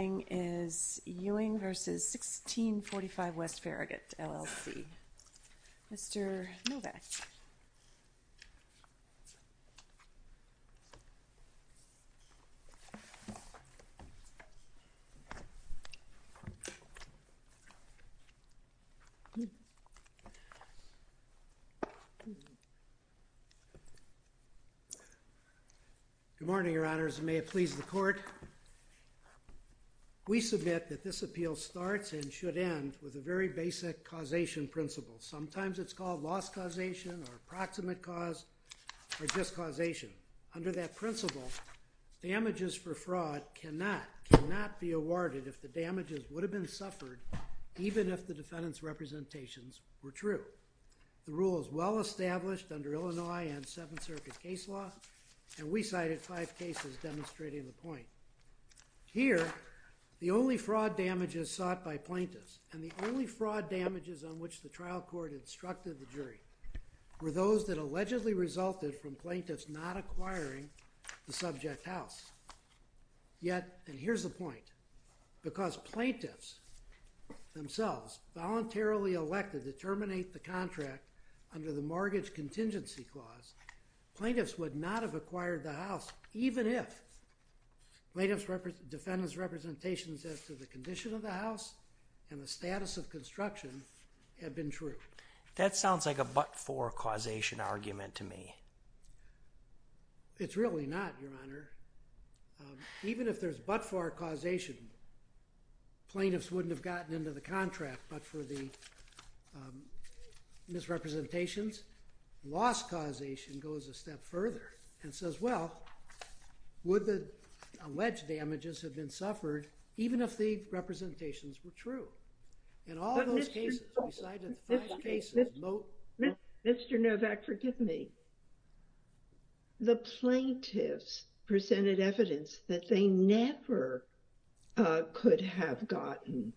Ewing v. 1645 W. Farragut LLC. Mr. Novak. Good morning, Your Honors, and may it please the Court. We submit that this appeal starts and should end with a very basic causation principle. Sometimes it's called loss causation or approximate cause or just causation. Under that principle, damages for fraud cannot be awarded if the damages would have been suffered even if the defendant's representations were true. The rule is well established under Illinois and Seventh Circuit case law, and we cited five cases demonstrating the point. Here, the only fraud damage is sought by plaintiffs, and the only fraud damages on which the trial court instructed the jury were those that allegedly resulted from plaintiffs not acquiring the subject house. Yet, and here's the point, because plaintiffs themselves voluntarily elected to terminate the contract under the mortgage contingency clause, plaintiffs would not have acquired the house even if plaintiff's defendant's representations as to the condition of the That sounds like a but-for causation argument to me. It's really not, Your Honor. Even if there's but-for causation, plaintiffs wouldn't have gotten into the contract, but for the misrepresentations, loss causation goes a step further and says, well, would the alleged damages have been suffered even if the representations were true? In all those cases, we cited five cases. Mr. Novak, forgive me. The plaintiffs presented evidence that they never could have gotten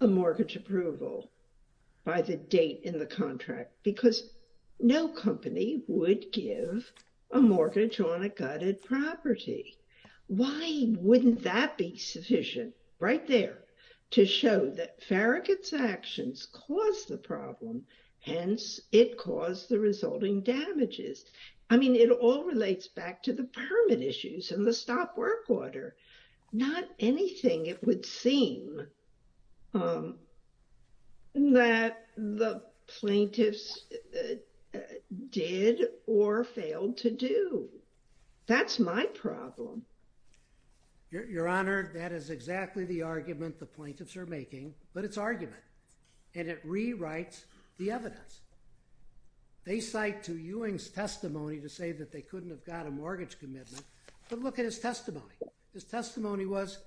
a mortgage approval by the date in the contract because no company would give a mortgage on a gutted property. Why wouldn't that be sufficient, right there, to show that Farragut's actions caused the problem, hence it caused the resulting damages? I mean, it all relates back to the permit issues and the stop work order. Not anything, it would seem, that the plaintiffs did or failed to do. That's my problem. Your Honor, that is exactly the argument the plaintiffs are making, but it's argument, and it rewrites the evidence. They cite to Ewing's testimony to say that they couldn't have got a mortgage commitment, but look at his testimony. His testimony was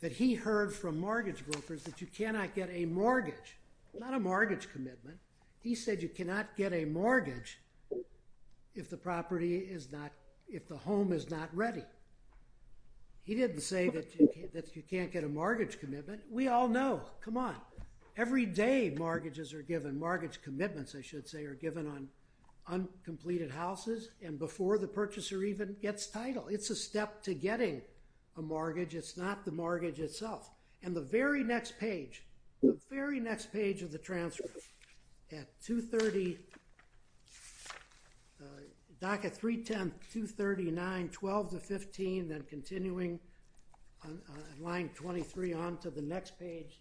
that he heard from mortgage brokers that you cannot get a mortgage, not a mortgage commitment. He said you cannot get a mortgage if the property is not, if the home is not ready. He didn't say that you can't get a mortgage commitment. We all know. Come on. Every day, mortgages are given, mortgage commitments, I should say, are given on uncompleted houses and before the purchaser even gets title. It's a step to getting a mortgage. It's not the mortgage itself. And the very next page, the very next page of the transcript, at 230, docket 310, 239, 12 to 15, then continuing on line 23 on to the next page,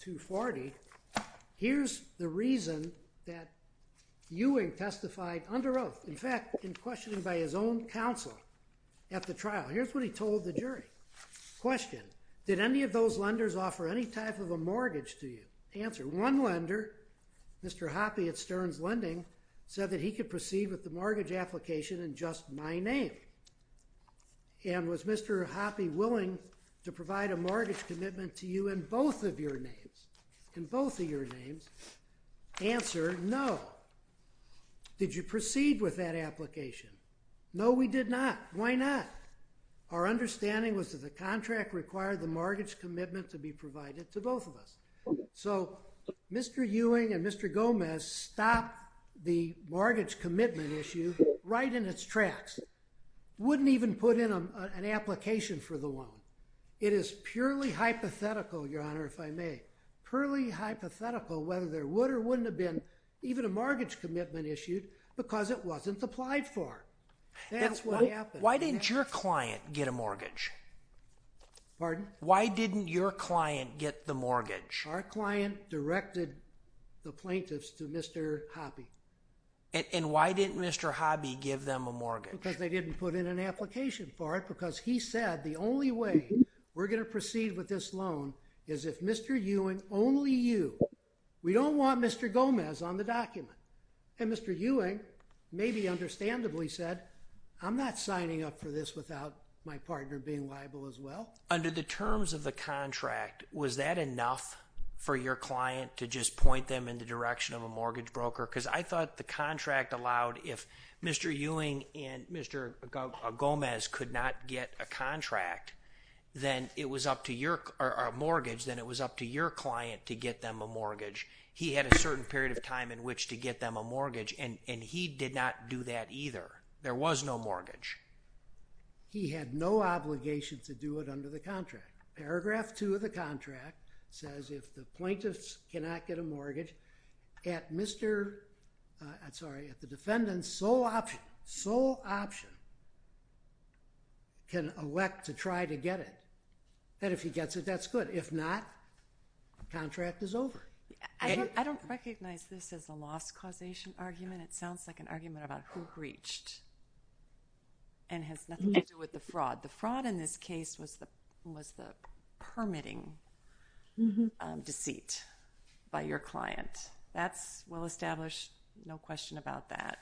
240, here's the reason that Ewing testified under oath. In fact, in questioning by his own counsel at the trial, here's what he told the jury. Question. Did any of those lenders offer any type of a mortgage to you? Answer. One lender, Mr. Hoppe at Stearns Lending, said that he could proceed with the mortgage application in just my name. And was Mr. Hoppe willing to provide a mortgage commitment to you in both of your names? In both of your names? Answer, no. Did you proceed with that application? No, we did not. Why not? Our understanding was that the contract required the mortgage commitment to be provided to both of us. So Mr. Ewing and Mr. Gomez stopped the mortgage commitment issue right in its tracks, wouldn't even put in an application for the loan. It is purely hypothetical, Your Honor, if I may, purely hypothetical whether there would or wouldn't have been even a mortgage commitment issued because it wasn't applied for. That's what happened. Why didn't your client get a mortgage? Pardon? Why didn't your client get the mortgage? Our client directed the plaintiffs to Mr. Hoppe. And why didn't Mr. Hoppe give them a mortgage? Because they didn't put in an application for it because he said the only way we're going to proceed with this loan is if Mr. Ewing, only you, we don't want Mr. Gomez on the document. And Mr. Ewing maybe understandably said, I'm not signing up for this without my partner being liable as well. Under the terms of the contract, was that enough for your client to just point them in the direction of a mortgage broker? Because I thought the contract allowed if Mr. Ewing and Mr. Gomez could not get a contract, then it was up to your, or a mortgage, then it was up to your client to get them a mortgage. He had a certain period of time in which to get them a mortgage, and he did not do that either. There was no mortgage. He had no obligation to do it under the contract. Paragraph two of the contract says if the plaintiffs cannot get a mortgage, at Mr. I'm sorry, at the defendant's sole option, sole option, can elect to try to get it. And if he gets it, that's good. If not, the contract is over. I don't recognize this as a loss causation argument. It sounds like an argument about who breached and has nothing to do with the fraud. The fraud in this case was the permitting deceit by your client. That's well established, no question about that,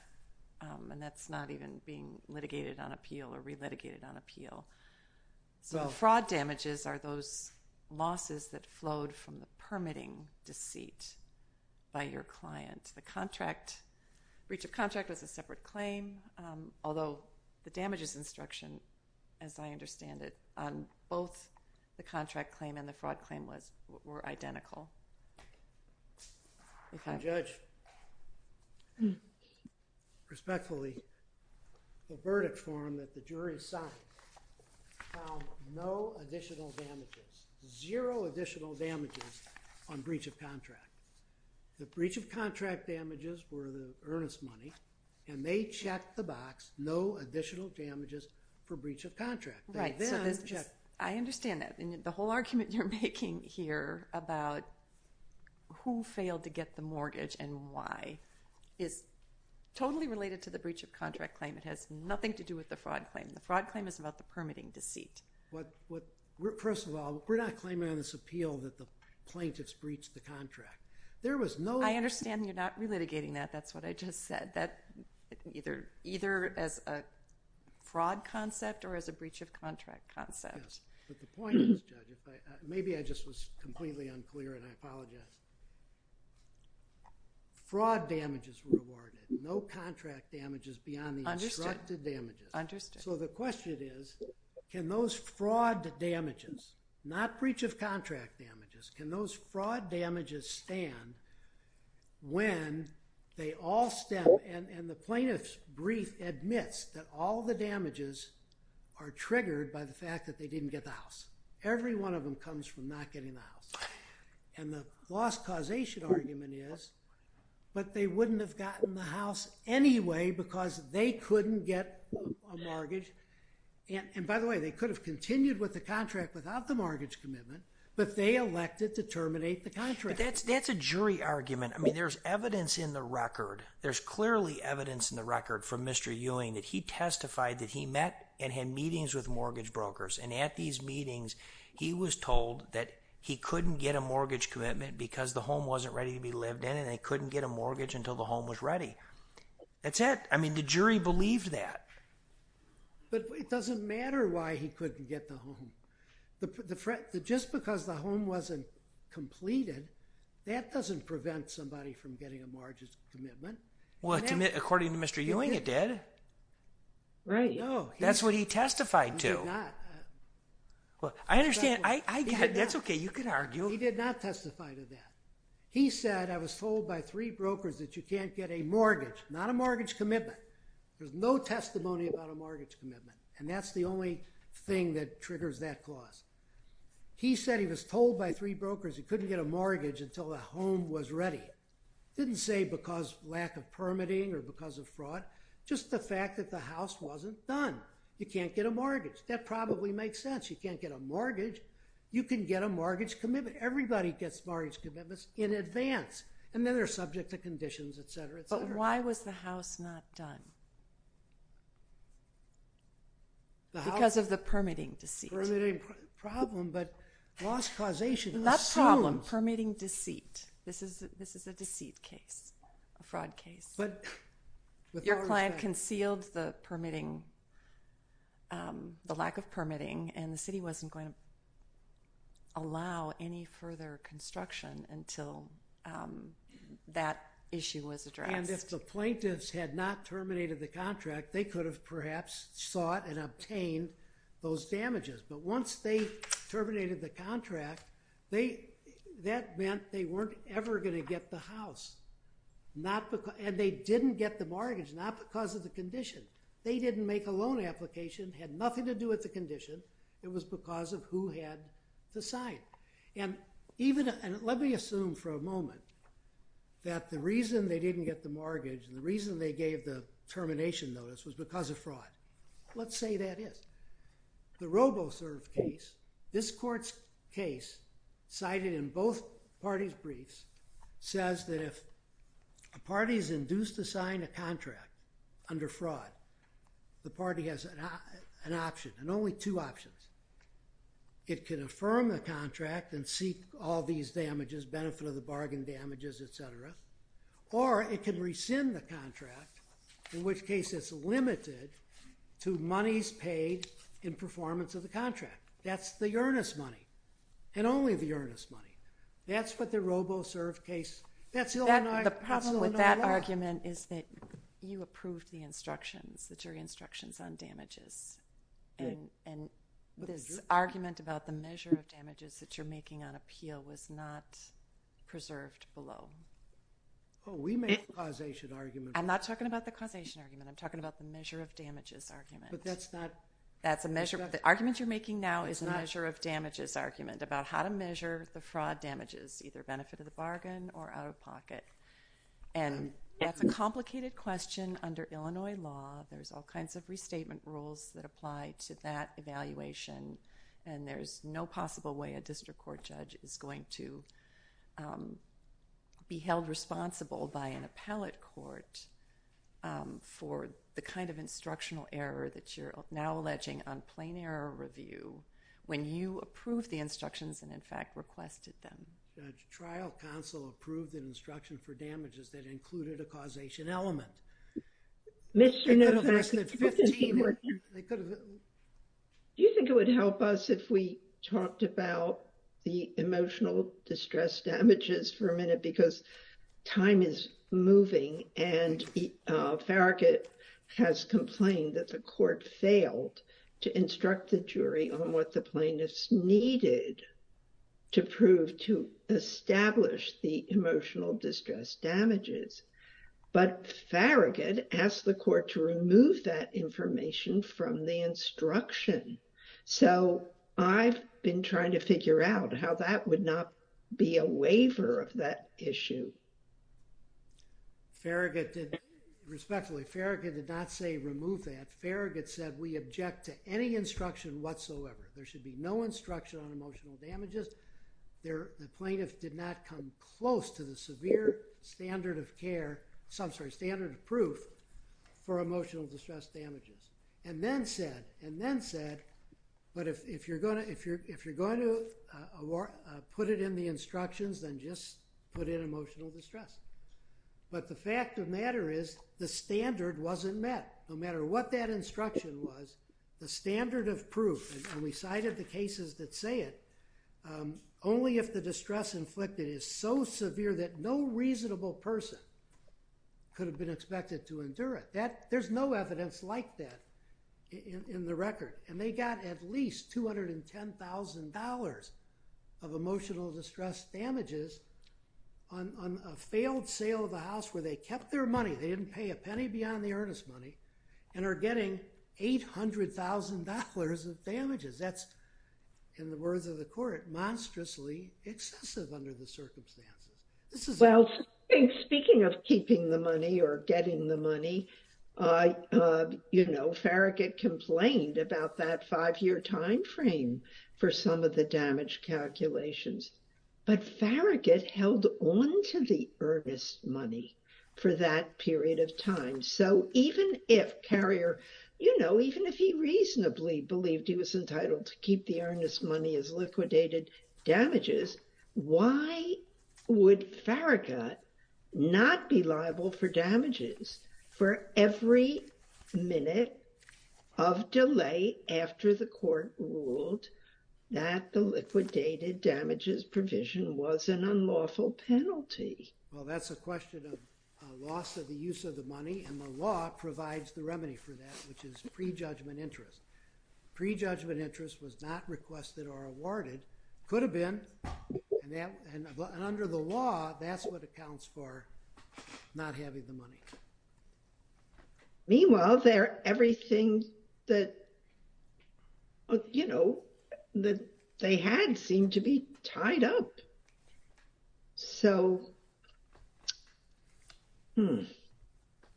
and that's not even being litigated on appeal or re-litigated on appeal. So the fraud damages are those losses that flowed from the permitting deceit by your client. The contract, breach of contract was a separate claim, although the damages instruction, as I understand it, on both the contract claim and the fraud claim were identical. And Judge, respectfully, the verdict form that the jury signed found no additional damages, zero additional damages on breach of contract. The breach of contract damages were the earnest money, and they checked the box, no additional damages for breach of contract. Right, I understand that. The whole argument you're making here about who failed to get the mortgage and why is totally related to the breach of contract claim. It has nothing to do with the fraud claim. The fraud claim is about the permitting deceit. First of all, we're not claiming on this appeal that the plaintiffs breached the contract. There was no- I understand you're not re-litigating that, that's what I just said. Either as a fraud concept or as a breach of contract concept. Yes, but the point is, Judge, maybe I just was completely unclear and I apologize. Fraud damages were awarded, no contract damages beyond the instructed damages. Understood. So the question is, can those fraud damages, not breach of contract damages, can those all stem, and the plaintiff's brief admits that all the damages are triggered by the fact that they didn't get the house. Every one of them comes from not getting the house. And the lost causation argument is, but they wouldn't have gotten the house anyway because they couldn't get a mortgage, and by the way, they could have continued with the contract without the mortgage commitment, but they elected to terminate the contract. But that's a jury argument. I mean, there's evidence in the record. There's clearly evidence in the record from Mr. Ewing that he testified that he met and had meetings with mortgage brokers, and at these meetings, he was told that he couldn't get a mortgage commitment because the home wasn't ready to be lived in, and they couldn't get a mortgage until the home was ready. That's it. I mean, the jury believed that. But it doesn't matter why he couldn't get the home. Just because the home wasn't completed, that doesn't prevent somebody from getting a mortgage commitment. Well, according to Mr. Ewing, it did. Right. That's what he testified to. I understand. I get it. That's okay. You can argue. He did not testify to that. He said, I was told by three brokers that you can't get a mortgage, not a mortgage commitment. There's no testimony about a mortgage commitment, and that's the only thing that triggers that clause. He said he was told by three brokers he couldn't get a mortgage until the home was ready. Didn't say because lack of permitting or because of fraud, just the fact that the house wasn't done. You can't get a mortgage. That probably makes sense. You can't get a mortgage. You can get a mortgage commitment. Everybody gets mortgage commitments in advance, and then they're subject to conditions, et cetera, et cetera. But why was the house not done? Because of the permitting deceit. Permitting is a permitting problem, but loss causation assumes. Not problem. Permitting deceit. This is a deceit case, a fraud case. Your client concealed the permitting, the lack of permitting, and the city wasn't going to allow any further construction until that issue was addressed. And if the plaintiffs had not terminated the contract, they could have perhaps sought and But once they terminated the contract, that meant they weren't ever going to get the house. And they didn't get the mortgage, not because of the condition. They didn't make a loan application, had nothing to do with the condition. It was because of who had to sign. And let me assume for a moment that the reason they didn't get the mortgage and the reason they gave the termination notice was because of fraud. Let's say that is. The RoboServe case, this court's case, cited in both parties' briefs, says that if a party is induced to sign a contract under fraud, the party has an option, and only two options. It can affirm the contract and seek all these damages, benefit of the bargain damages, etc. Or it can rescind the contract, in which case it's limited to monies paid in performance of the contract. That's the earnest money, and only the earnest money. That's what the RoboServe case, that's Illinois law. The problem with that argument is that you approved the instructions, the jury instructions on damages. And this argument about the measure of damages that you're making on appeal was not preserved below. Oh, we made a causation argument. I'm not talking about the causation argument. I'm talking about the measure of damages argument. But that's not... That's a measure... The argument you're making now is a measure of damages argument about how to measure the fraud damages, either benefit of the bargain or out-of-pocket. And that's a complicated question under Illinois law. There's all kinds of restatement rules that apply to that evaluation, and there's no possible way a district court judge is going to be held responsible by an appellate court for the kind of instructional error that you're now alleging on plain error review when you approved the instructions and, in fact, requested them. Judge, trial counsel approved an instruction for damages that included a causation element. Mr. Novak... Do you think it would help us if we talked about the emotional distress damages for a minute? Because time is moving and Farragut has complained that the court failed to instruct the jury on what the plaintiffs needed to prove to establish the emotional distress damages. But Farragut asked the court to remove that information from the instruction. So I've been trying to figure out how that would not be a waiver of that issue. Farragut did... Respectfully, Farragut did not say remove that. Farragut said we object to any instruction whatsoever. There should be no instruction on emotional damages. The plaintiff did not come close to the severe standard of care... I'm sorry, standard of proof for emotional distress damages. And then said, but if you're going to put it in the instructions, then just put in emotional distress. But the fact of the matter is the standard wasn't met. No matter what that instruction was, the standard of proof, and we cited the cases that say it, only if the distress inflicted is so severe that no reasonable person could have been expected to endure it. There's no evidence like that in the record. And they got at least $210,000 of emotional distress damages on a failed sale of a house where they kept their money, they didn't pay a penny beyond the earnest money, and are getting $800,000 of damages. That's, in the words of the court, monstrously excessive under the circumstances. This is... Well, speaking of keeping the money or getting the money, you know, Farragut complained about that five-year time frame for some of the damage calculations. But Farragut held on to the earnest money for that period of time. So even if Carrier, you know, even if he reasonably believed he was entitled to keep the earnest money as liquidated damages, why would Farragut not be liable for damages for every minute of delay after the court ruled that the liquidated damages provision was an unlawful penalty? Well, that's a question of loss of the use of the money, and the law provides the remedy for that, which is prejudgment interest. Prejudgment interest was not requested or awarded, could have been, and under the law, that's what accounts for not having the money. Meanwhile, everything that, you know, that they had seemed to be tied up. So,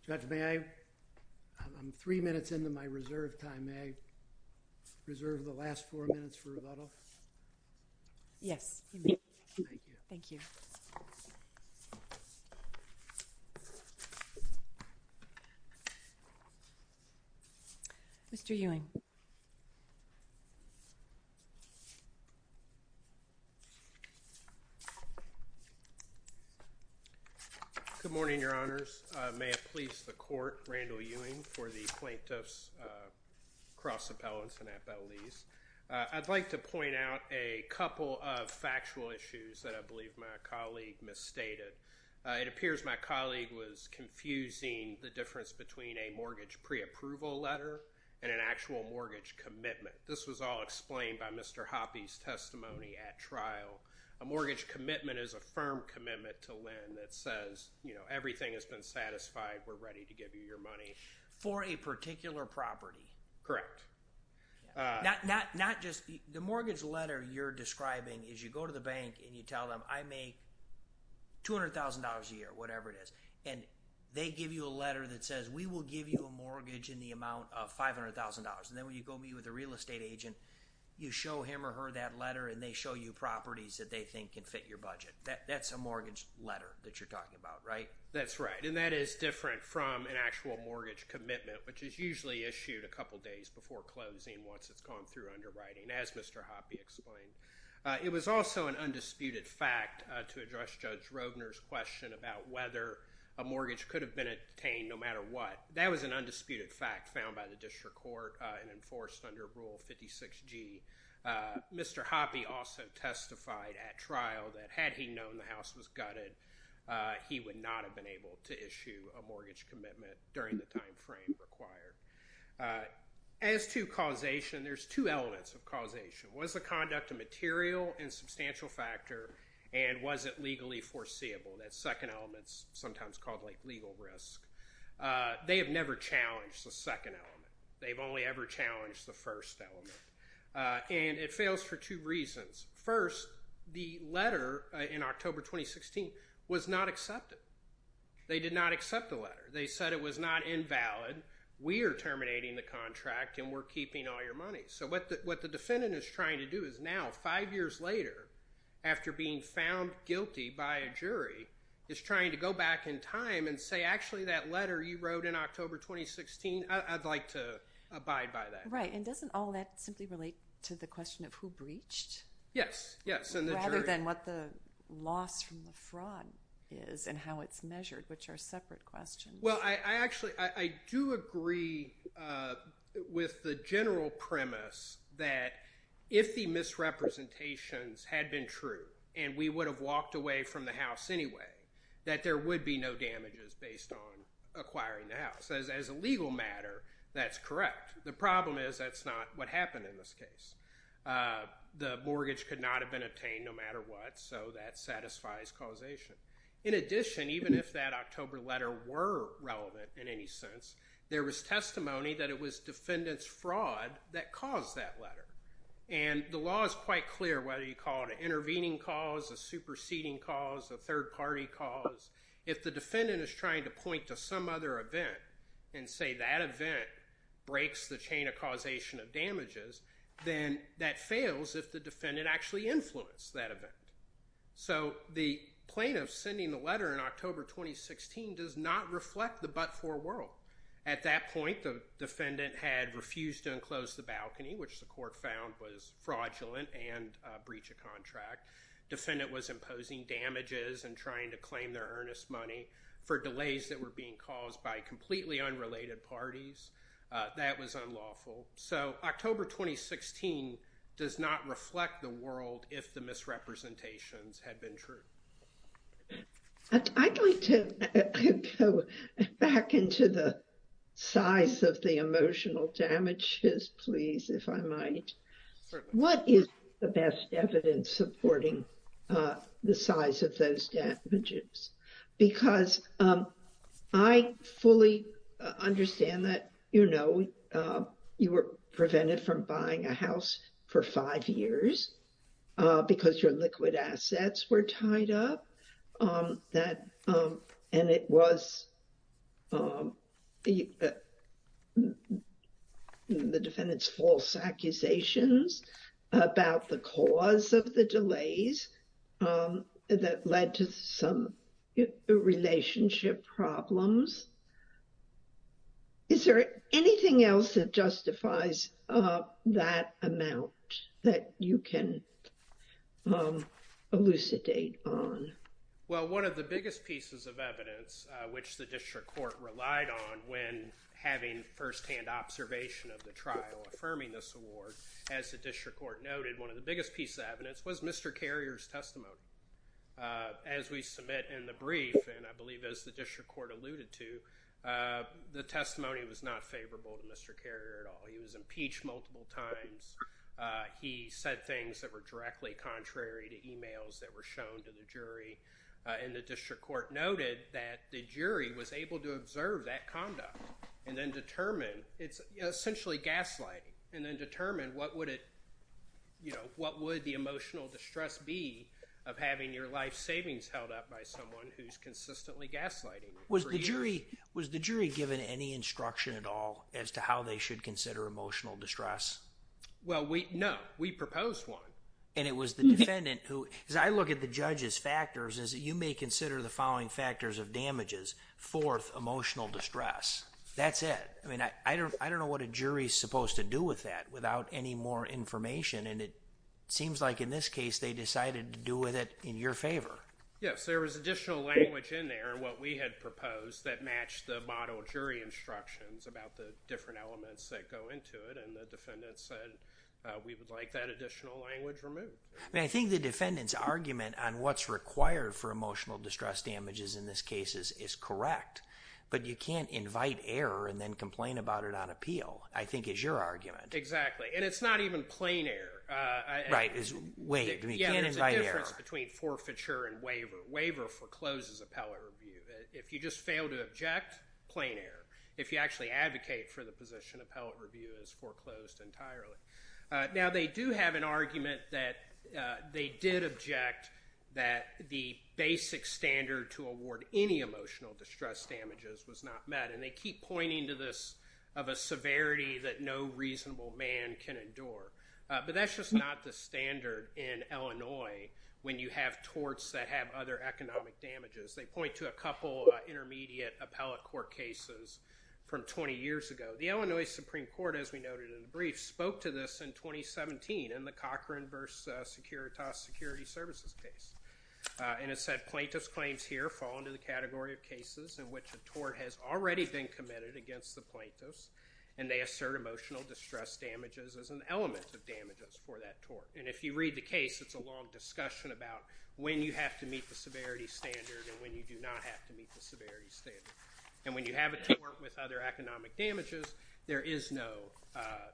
Judge, may I, I'm three minutes into my reserve time, may I reserve the last four minutes for rebuttal? Yes, you may. Thank you. Thank you. Mr. Ewing. Good morning, Your Honors. May it please the Court, Randall Ewing for the Plaintiffs Cross Appellants and Appellees. I'd like to point out a couple of factual issues that I believe my colleague misstated. It appears my colleague was confusing the difference between a mortgage preapproval letter and an actual mortgage commitment. This was all explained by Mr. Hoppe's testimony at trial. A mortgage commitment is a firm commitment to lend that says, you know, everything has been satisfied, we're ready to give you your money. For a particular property. Correct. Not just, the mortgage letter you're describing is you go to the bank and you tell them, I make $200,000 a year, whatever it is, and they give you a letter that says, we will give you a mortgage in the amount of $500,000, and then when you go meet with a real estate agent, you show him or her that letter, and they show you properties that they think can fit your budget. That's a mortgage letter that you're talking about, right? That's right. And that is different from an actual mortgage commitment, which is usually issued a couple days before closing once it's gone through underwriting, as Mr. Hoppe explained. It was also an undisputed fact to address Judge Rogner's question about whether a mortgage could have been obtained no matter what. That was an undisputed fact found by the district court and enforced under Rule 56G. Mr. Hoppe also testified at trial that had he known the house was gutted, he would not have been able to issue a mortgage commitment during the time frame required. As to causation, there's two elements of causation. Was the conduct a material and substantial factor, and was it legally foreseeable? That second element is sometimes called legal risk. They have never challenged the second element. They've only ever challenged the first element. And it fails for two reasons. First, the letter in October 2016 was not accepted. They did not accept the letter. They said it was not invalid, we are terminating the contract, and we're keeping all your money. So what the defendant is trying to do is now, five years later, after being found guilty by a jury, is trying to go back in time and say, actually, that letter you wrote in October 2016, I'd like to abide by that. Right. And doesn't all that simply relate to the question of who breached? Yes. Yes. Rather than what the loss from the fraud is and how it's measured, which are separate questions. Well, I actually, I do agree with the general premise that if the misrepresentations had been true, and we would have walked away from the house anyway, that there would be no damages based on acquiring the house. As a legal matter, that's correct. The problem is that's not what happened in this case. The mortgage could not have been obtained no matter what, so that satisfies causation. In addition, even if that October letter were relevant in any sense, there was testimony that it was defendant's fraud that caused that letter. And the law is quite clear whether you call it an intervening cause, a superseding cause, a third-party cause. If the defendant is trying to point to some other event and say that event breaks the chain of causation of damages, then that fails if the defendant actually influenced that event. So the plaintiff sending the letter in October 2016 does not reflect the but-for world. At that point, the defendant had refused to enclose the balcony, which the court found was fraudulent and a breach of contract. Defendant was imposing damages and trying to claim their earnest money for delays that were being caused by completely unrelated parties. That was unlawful. So October 2016 does not reflect the world if the misrepresentations had been true. I'd like to go back into the size of the emotional damages, please, if I might. What is the best evidence supporting the size of those damages? Because I fully understand that, you know, you were prevented from buying a house for a year, and it was the defendant's false accusations about the cause of the delays that led to some relationship problems. Is there anything else that justifies that amount that you can elucidate on? Well, one of the biggest pieces of evidence which the district court relied on when having firsthand observation of the trial affirming this award, as the district court noted, one of the biggest pieces of evidence was Mr. Carrier's testimony. As we submit in the brief, and I believe as the district court alluded to, the testimony was not favorable to Mr. Carrier at all. He was impeached multiple times. He said things that were directly contrary to emails that were shown to the jury, and the district court noted that the jury was able to observe that conduct and then determine, it's essentially gaslighting, and then determine what would it, you know, what would the emotional distress be of having your life savings held up by someone who's consistently gaslighting for years? Was the jury given any instruction at all as to how they should consider emotional distress? Well, no. We proposed one. And it was the defendant who, as I look at the judge's factors, is that you may consider the following factors of damages, fourth, emotional distress. That's it. I mean, I don't know what a jury's supposed to do with that without any more information, and it seems like in this case, they decided to do with it in your favor. Yes. There was additional language in there, what we had proposed, that matched the model jury instructions about the different elements that go into it, and the defendant said we would like that additional language removed. I mean, I think the defendant's argument on what's required for emotional distress damages in this case is correct, but you can't invite error and then complain about it on appeal, I think is your argument. Exactly. And it's not even plain error. Right. It's wait. You can't invite error. Yeah, there's a difference between forfeiture and waiver. Waiver forecloses appellate review. If you just fail to object, plain error. If you actually advocate for the position, appellate review is foreclosed entirely. Now they do have an argument that they did object that the basic standard to award any emotional distress damages was not met, and they keep pointing to this of a severity that no reasonable man can endure. But that's just not the standard in Illinois when you have torts that have other economic damages. They point to a couple intermediate appellate court cases from 20 years ago. The Illinois Supreme Court, as we noted in the brief, spoke to this in 2017 in the Cochran v. Securitas Security Services case, and it said plaintiff's claims here fall into the category of cases in which the tort has already been committed against the plaintiff's, and they assert emotional distress damages as an element of damages for that tort. And if you read the case, it's a long discussion about when you have to meet the severity standard and when you do not have to meet the severity standard. And when you have a tort with other economic damages, there is no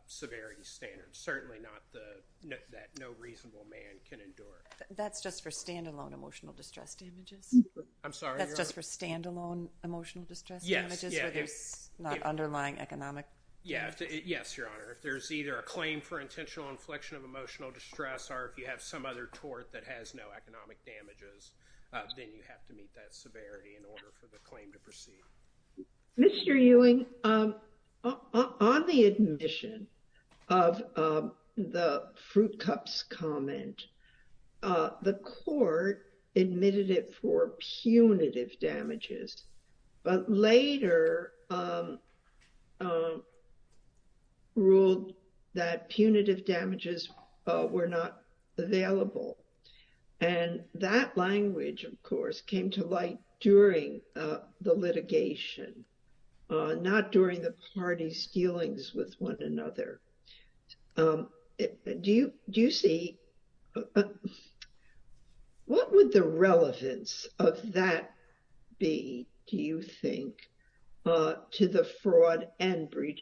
severity standard, certainly not that no reasonable man can endure. That's just for standalone emotional distress damages? I'm sorry, your honor? That's just for standalone emotional distress damages where there's not underlying economic damage? Yes, your honor. If there's either a claim for intentional inflection of emotional distress or if you have some other tort that has no economic damages, then you have to meet that severity in order for the claim to proceed. Mr. Ewing, on the admission of the Fruit Cups comment, the court admitted it for punitive damages, but later ruled that punitive damages were not available. And that language, of course, came to light during the litigation, not during the party's dealings with one another. What would the relevance of that be, do you think, to the fraud and breach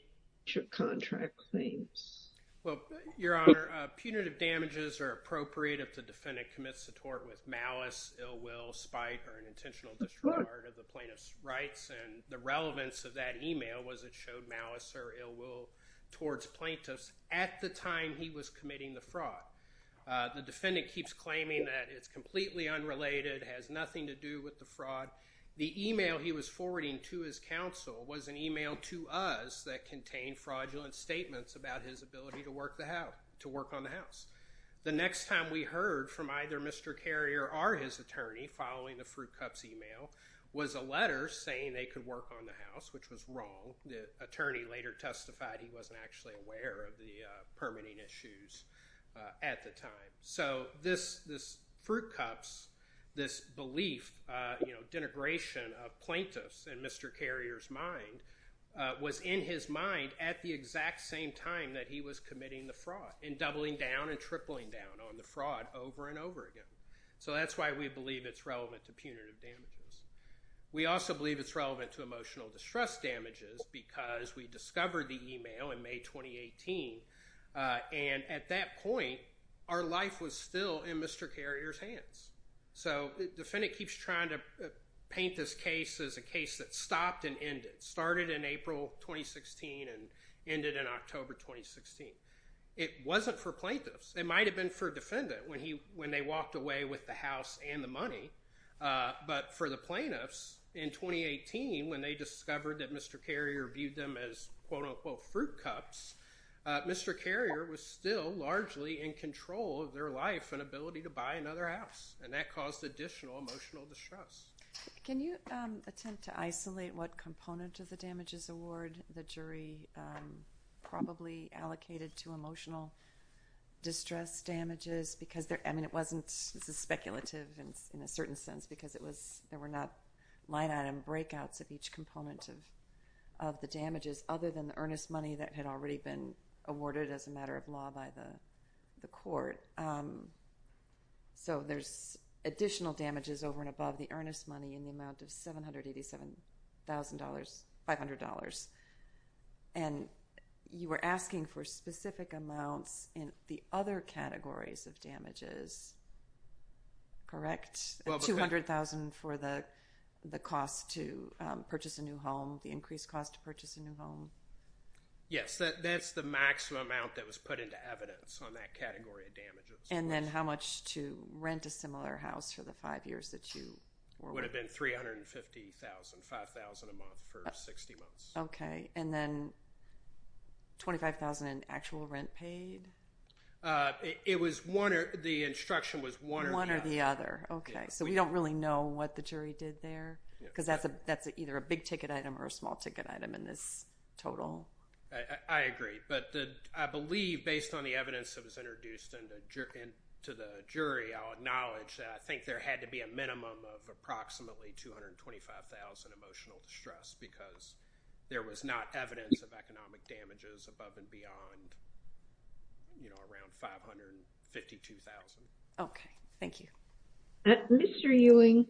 of contract claims? Well, your honor, punitive damages are appropriate if the defendant commits a tort with malice, ill will, spite, or an intentional disregard of the plaintiff's rights, and the relevance of that email was it showed malice or ill will towards plaintiffs at the time he was committing the fraud. The defendant keeps claiming that it's completely unrelated, has nothing to do with the fraud. The email he was forwarding to his counsel was an email to us that contained fraudulent statements about his ability to work on the house. The next time we heard from either Mr. Carrier or his attorney following the Fruit Cups email was a letter saying they could work on the house, which was wrong. The attorney later testified he wasn't actually aware of the permitting issues at the time. So this Fruit Cups, this belief, denigration of plaintiffs in Mr. Carrier's mind was in his mind at the exact same time that he was committing the fraud, and doubling down and tripling down on the fraud over and over again. So that's why we believe it's relevant to punitive damages. We also believe it's relevant to emotional distress damages because we discovered the email in May 2018, and at that point, our life was still in Mr. Carrier's hands. So the defendant keeps trying to paint this case as a case that stopped and ended, started in April 2016 and ended in October 2016. It wasn't for plaintiffs. It might have been for a defendant when they walked away with the house and the money, but for the plaintiffs, in 2018, when they discovered that Mr. Carrier viewed them as quote-unquote Fruit Cups, Mr. Carrier was still largely in control of their life and ability to buy another house, and that caused additional emotional distress. Can you attempt to isolate what component of the damages award the jury probably allocated to emotional distress damages because, I mean, it wasn't speculative in a certain sense because there were not line-item breakouts of each component of the damages other than the earnest money that had already been awarded as a matter of law by the court. So there's additional damages over and above the earnest money in the amount of $787,500, and you were asking for specific amounts in the other categories of damages, correct? $200,000 for the cost to purchase a new home, the increased cost to purchase a new home? Yes, that's the maximum amount that was put into evidence on that category of damages. And then how much to rent a similar house for the five years that you were with them? It would have been $350,000, $5,000 a month for 60 months. Okay, and then $25,000 in actual rent paid? It was one, the instruction was one or the other. One or the other, okay. So we don't really know what the jury did there because that's either a big-ticket item or a small-ticket item in this total. I agree, but I believe based on the evidence that was introduced into the jury, I'll acknowledge that I think there had to be a minimum of approximately $225,000 emotional distress because there was not evidence of economic damages above and beyond, you know, around $552,000. Okay, thank you. Mr. Ewing,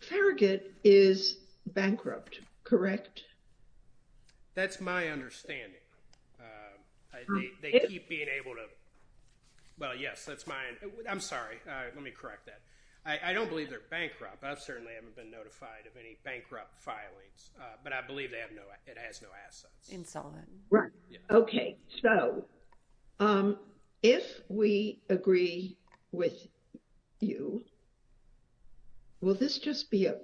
Farragut is bankrupt, correct? That's my understanding. They keep being able to, well, yes, that's mine. I'm sorry. Let me correct that. I don't believe they're bankrupt. I certainly haven't been notified of any bankrupt filings, but I believe it has no assets. Insolvent. Right. Okay, so if we agree with you, will this just be a,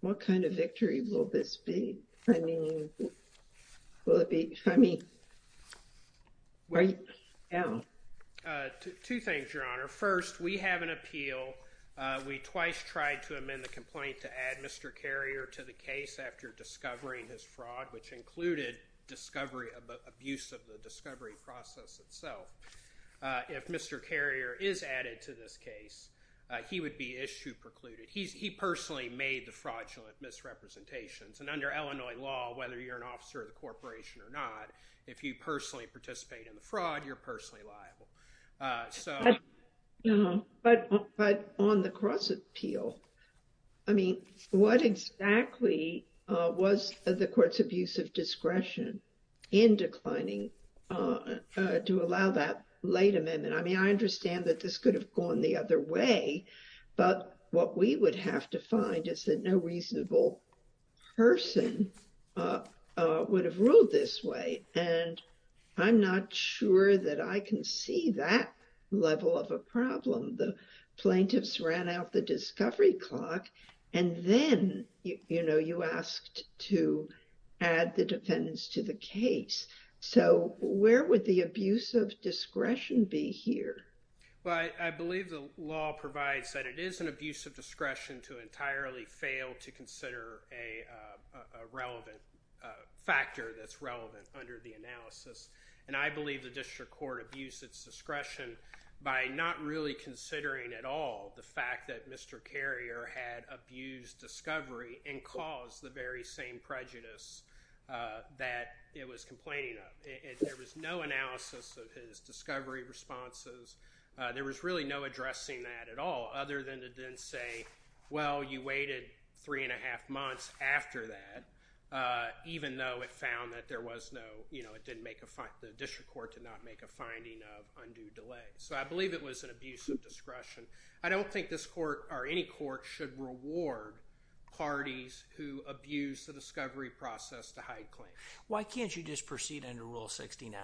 what kind of victory will this be? I mean, will it be, I mean, right now? Two things, Your Honor. First, we have an appeal. We twice tried to amend the complaint to add Mr. Carrier to the case after discovering his fraud, which included discovery of the abuse of the discovery process itself. If Mr. Carrier is added to this case, he would be issue precluded. He personally made the fraudulent misrepresentations, and under Illinois law, whether you're an officer of the corporation or not, if you personally participate in the fraud, you're personally liable. But on the cross-appeal, I mean, what exactly was the court's abuse of discretion in declining to allow that late amendment? I mean, I understand that this could have gone the other way, but what we would have to find is that no reasonable person would have ruled this way, and I'm not sure that I can see that level of a problem. The plaintiffs ran out the discovery clock, and then, you know, you asked to add the defendants to the case. So where would the abuse of discretion be here? Well, I believe the law provides that it is an abuse of discretion to entirely fail to consider a relevant factor that's relevant under the analysis, and I believe the district court abused its discretion by not really considering at all the fact that Mr. Carrier had abused discovery and caused the very same prejudice that it was complaining of. There was no analysis of his discovery responses. There was really no addressing that at all other than to then say, well, you waited three and a half months after that, even though it found that there was no, you know, it didn't make a, the district court did not make a finding of undue delay. So I believe it was an abuse of discretion. I don't think this court or any court should reward parties who abuse the discovery process to hide claims. Why can't you just proceed under Rule 69?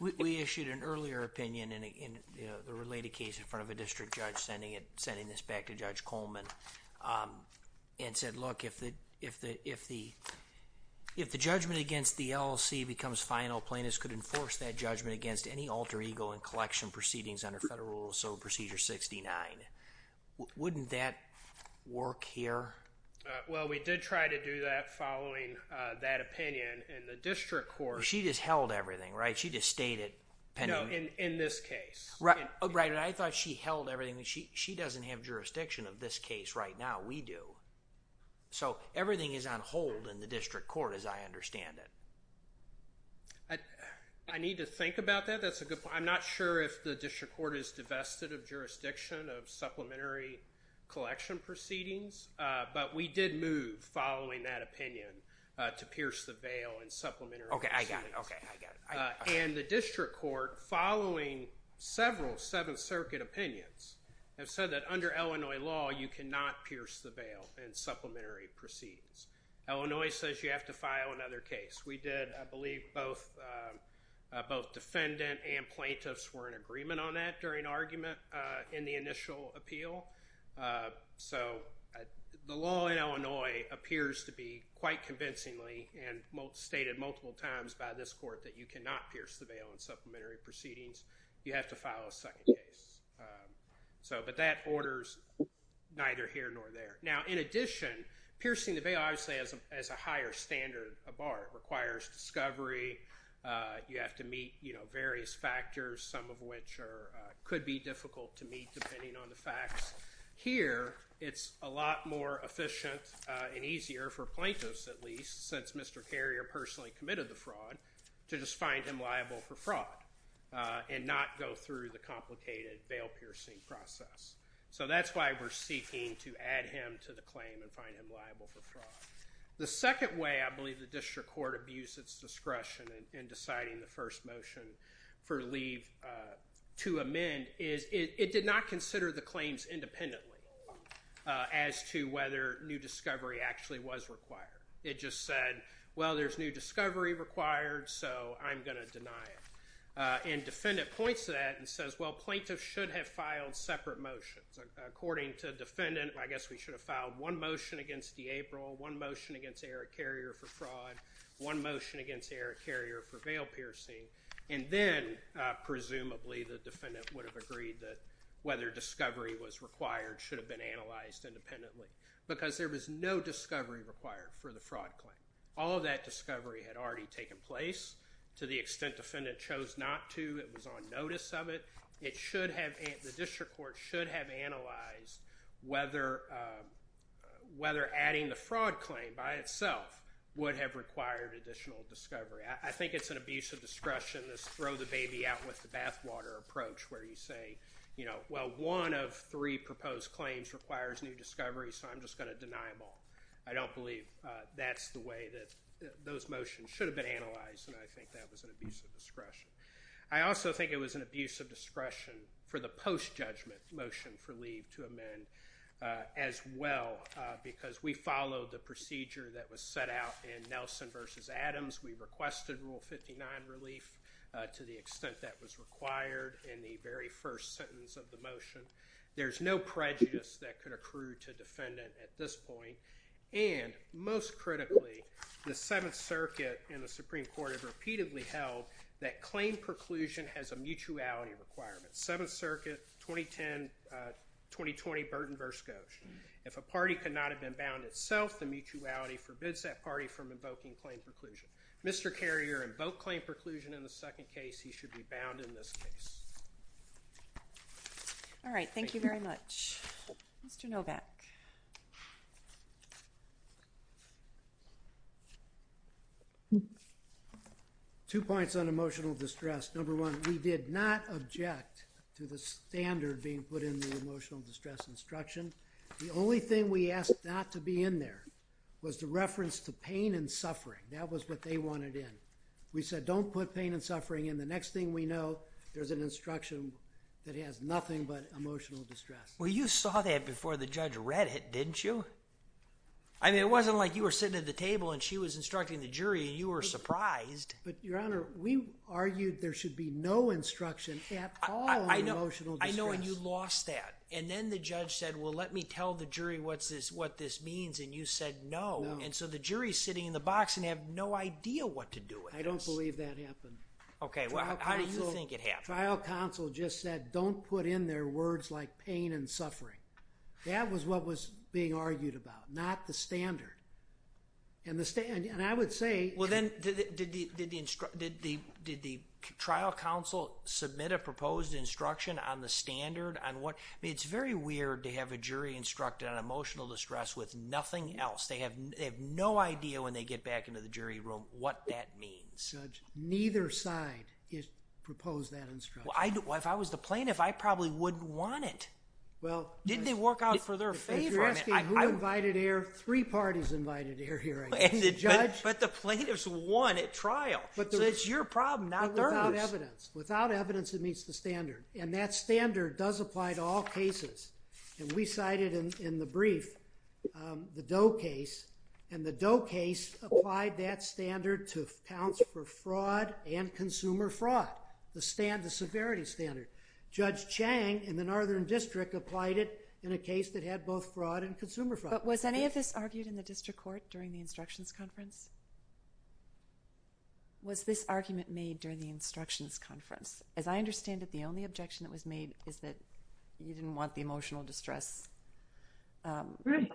We issued an earlier opinion in the related case in front of a district judge sending this back to Judge Coleman and said, look, if the judgment against the LLC becomes final, plaintiffs could enforce that judgment against any alter ego and collection proceedings under Federal Rule 69. Wouldn't that work here? Well, we did try to do that following that opinion in the district court. She just held everything, right? She just stayed at Penny. No, in this case. Right. And I thought she held everything. She doesn't have jurisdiction of this case right now. We do. So everything is on hold in the district court as I understand it. I need to think about that. That's a good point. I'm not sure if the district court is divested of jurisdiction of supplementary collection proceedings, but we did move following that opinion to pierce the bail and supplementary. OK, I got it. OK, I got it. And the district court, following several Seventh Circuit opinions, have said that under Illinois law you cannot pierce the bail and supplementary proceedings. Illinois says you have to file another case. We did. I believe both defendant and plaintiffs were in agreement on that during argument in the initial appeal. So the law in Illinois appears to be quite convincingly and stated multiple times by this court that you cannot pierce the bail and supplementary proceedings. You have to file a second case. But that orders neither here nor there. Now, in addition, piercing the bail obviously has a higher standard of art. It requires discovery. You have to meet various factors, some of which could be difficult to meet depending on the facts. Here it's a lot more efficient and easier for plaintiffs at least, since Mr. Carrier personally committed the fraud, to just find him liable for fraud and not go through the complicated bail piercing process. So that's why we're seeking to add him to the claim and find him liable for fraud. The second way I believe the district court abused its discretion in deciding the first motion for leave to amend is it did not consider the claims independently as to whether new discovery actually was required. It just said, well, there's new discovery required, so I'm going to deny it. And the defendant points to that and says, well, plaintiffs should have filed separate motions. According to the defendant, I guess we should have filed one motion against D'April, one motion against Eric Carrier for fraud, one motion against Eric Carrier for bail piercing, and then presumably the defendant would have agreed that whether discovery was required should have been analyzed independently because there was no discovery required for the fraud claim. All of that discovery had already taken place to the extent the defendant chose not to. It was on notice of it. The district court should have analyzed whether adding the fraud claim by itself would have required additional discovery. I think it's an abuse of discretion to throw the baby out with the bathwater approach where you say, well, one of three proposed claims requires new discovery, so I'm just going to deny them all. I don't believe that's the way that those motions should have been analyzed, and I think that was an abuse of discretion. I also think it was an abuse of discretion for the post-judgment motion for leave to amend as well because we followed the procedure that was set out in Nelson v. Adams. We requested Rule 59 relief to the extent that was required in the very first sentence of the motion. There's no prejudice that could accrue to defendant at this point, and most critically, the Seventh Circuit and the Supreme Court have repeatedly held that claim preclusion has a mutuality requirement. Seventh Circuit 2010-2020 Burton v. Goch. If a party cannot have been bound itself, the mutuality forbids that party from invoking claim preclusion. Mr. Carrier invoked claim preclusion in the second case. He should be bound in this case. All right, thank you very much. Mr. Novak. Two points on emotional distress. Number one, we did not object to the standard being put in the emotional distress instruction. The only thing we asked not to be in there was the reference to pain and suffering. That was what they wanted in. We said don't put pain and suffering in. The next thing we know, there's an instruction that has nothing but emotional distress. Well, you saw that before the judge read it, didn't you? I mean, it wasn't like you were sitting at the table, and she was instructing the jury, and you were surprised. But, Your Honor, we argued there should be no instruction at all on emotional distress. I know, and you lost that. And then the judge said, well, let me tell the jury what this means, and you said no. And so the jury's sitting in the box and have no idea what to do with this. I don't believe that happened. Okay, well, how do you think it happened? Trial counsel just said don't put in there words like pain and suffering. That was what was being argued about, not the standard. And I would say— Well, then, did the trial counsel submit a proposed instruction on the standard? I mean, it's very weird to have a jury instructed on emotional distress with nothing else. They have no idea when they get back into the jury room what that means. Judge, neither side proposed that instruction. Well, if I was the plaintiff, I probably wouldn't want it. Didn't it work out for their favor? If you're asking who invited air, three parties invited air here, I guess. But the plaintiffs won at trial. So it's your problem, not theirs. Without evidence. Without evidence, it meets the standard. And that standard does apply to all cases. And we cited in the brief the Doe case. And the Doe case applied that standard to accounts for fraud and consumer fraud, the severity standard. Judge Chang in the Northern District applied it in a case that had both fraud and consumer fraud. But was any of this argued in the district court during the instructions conference? Was this argument made during the instructions conference? As I understand it, the only objection that was made is that you didn't want the emotional distress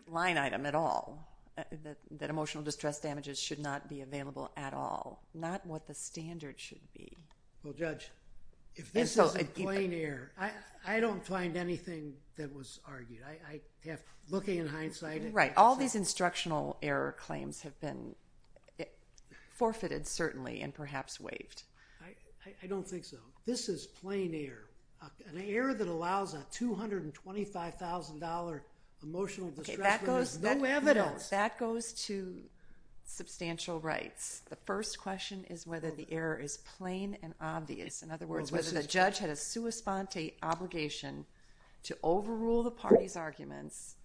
line item at all. That emotional distress damages should not be available at all. Not what the standard should be. Well, Judge, if this is in plain air, I don't find anything that was argued. Looking in hindsight. Right. All these instructional error claims have been forfeited, certainly, and perhaps waived. I don't think so. This is plain air. An error that allows a $225,000 emotional distress line is no evidence. That goes to substantial rights. The first question is whether the error is plain and obvious. In other words, whether the judge had a sua sponte obligation to overrule the party's arguments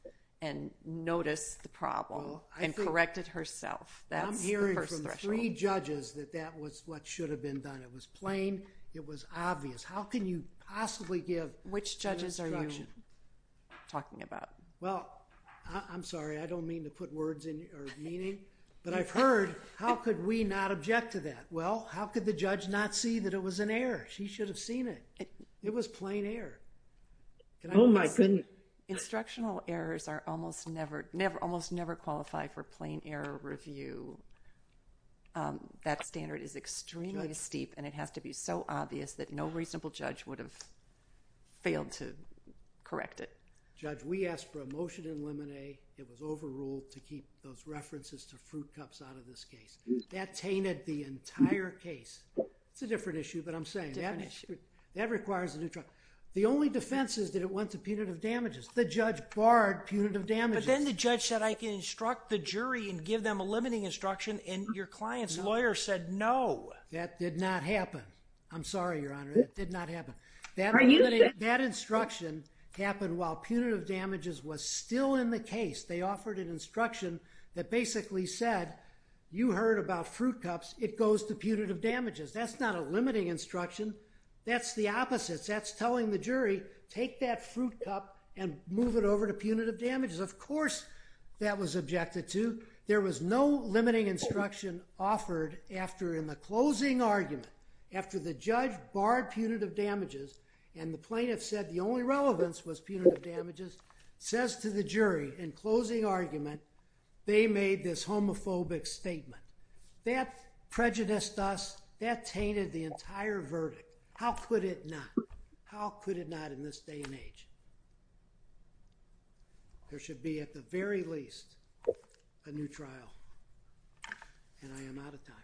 and notice the problem and correct it herself. I'm hearing from three judges that that was what should have been done. It was plain. It was obvious. How can you possibly give instruction? Which judges are you talking about? Well, I'm sorry. I don't mean to put words in your meaning. But I've heard, how could we not object to that? Well, how could the judge not see that it was an error? She should have seen it. It was plain air. Oh, my goodness. Instructional errors almost never qualify for plain air review. That standard is extremely steep, and it has to be so obvious that no reasonable judge would have failed to correct it. Judge, we asked for a motion in limine. It was overruled to keep those references to fruit cups out of this case. That tainted the entire case. It's a different issue, but I'm saying that requires a new trial. The only defense is that it went to punitive damages. The judge barred punitive damages. But then the judge said, I can instruct the jury and give them a limiting instruction, and your client's lawyer said no. That did not happen. I'm sorry, Your Honor. That did not happen. Are you saying? That instruction happened while punitive damages was still in the case. They offered an instruction that basically said, you heard about fruit cups. It goes to punitive damages. That's not a limiting instruction. That's the opposite. That's telling the jury, take that fruit cup and move it over to punitive damages. Of course that was objected to. There was no limiting instruction offered after, in the closing argument, after the judge barred punitive damages, and the plaintiff said the only relevance was punitive damages, says to the jury, in closing argument, they made this homophobic statement. That prejudiced us. That tainted the entire verdict. How could it not? How could it not in this day and age? There should be, at the very least, a new trial. And I am out of time.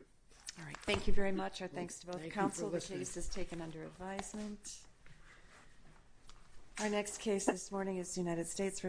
All right. Thank you very much. Our thanks to both counsel. Thank you for listening. The case is taken under advisement. Our next case this morning is United States v. Hollywood.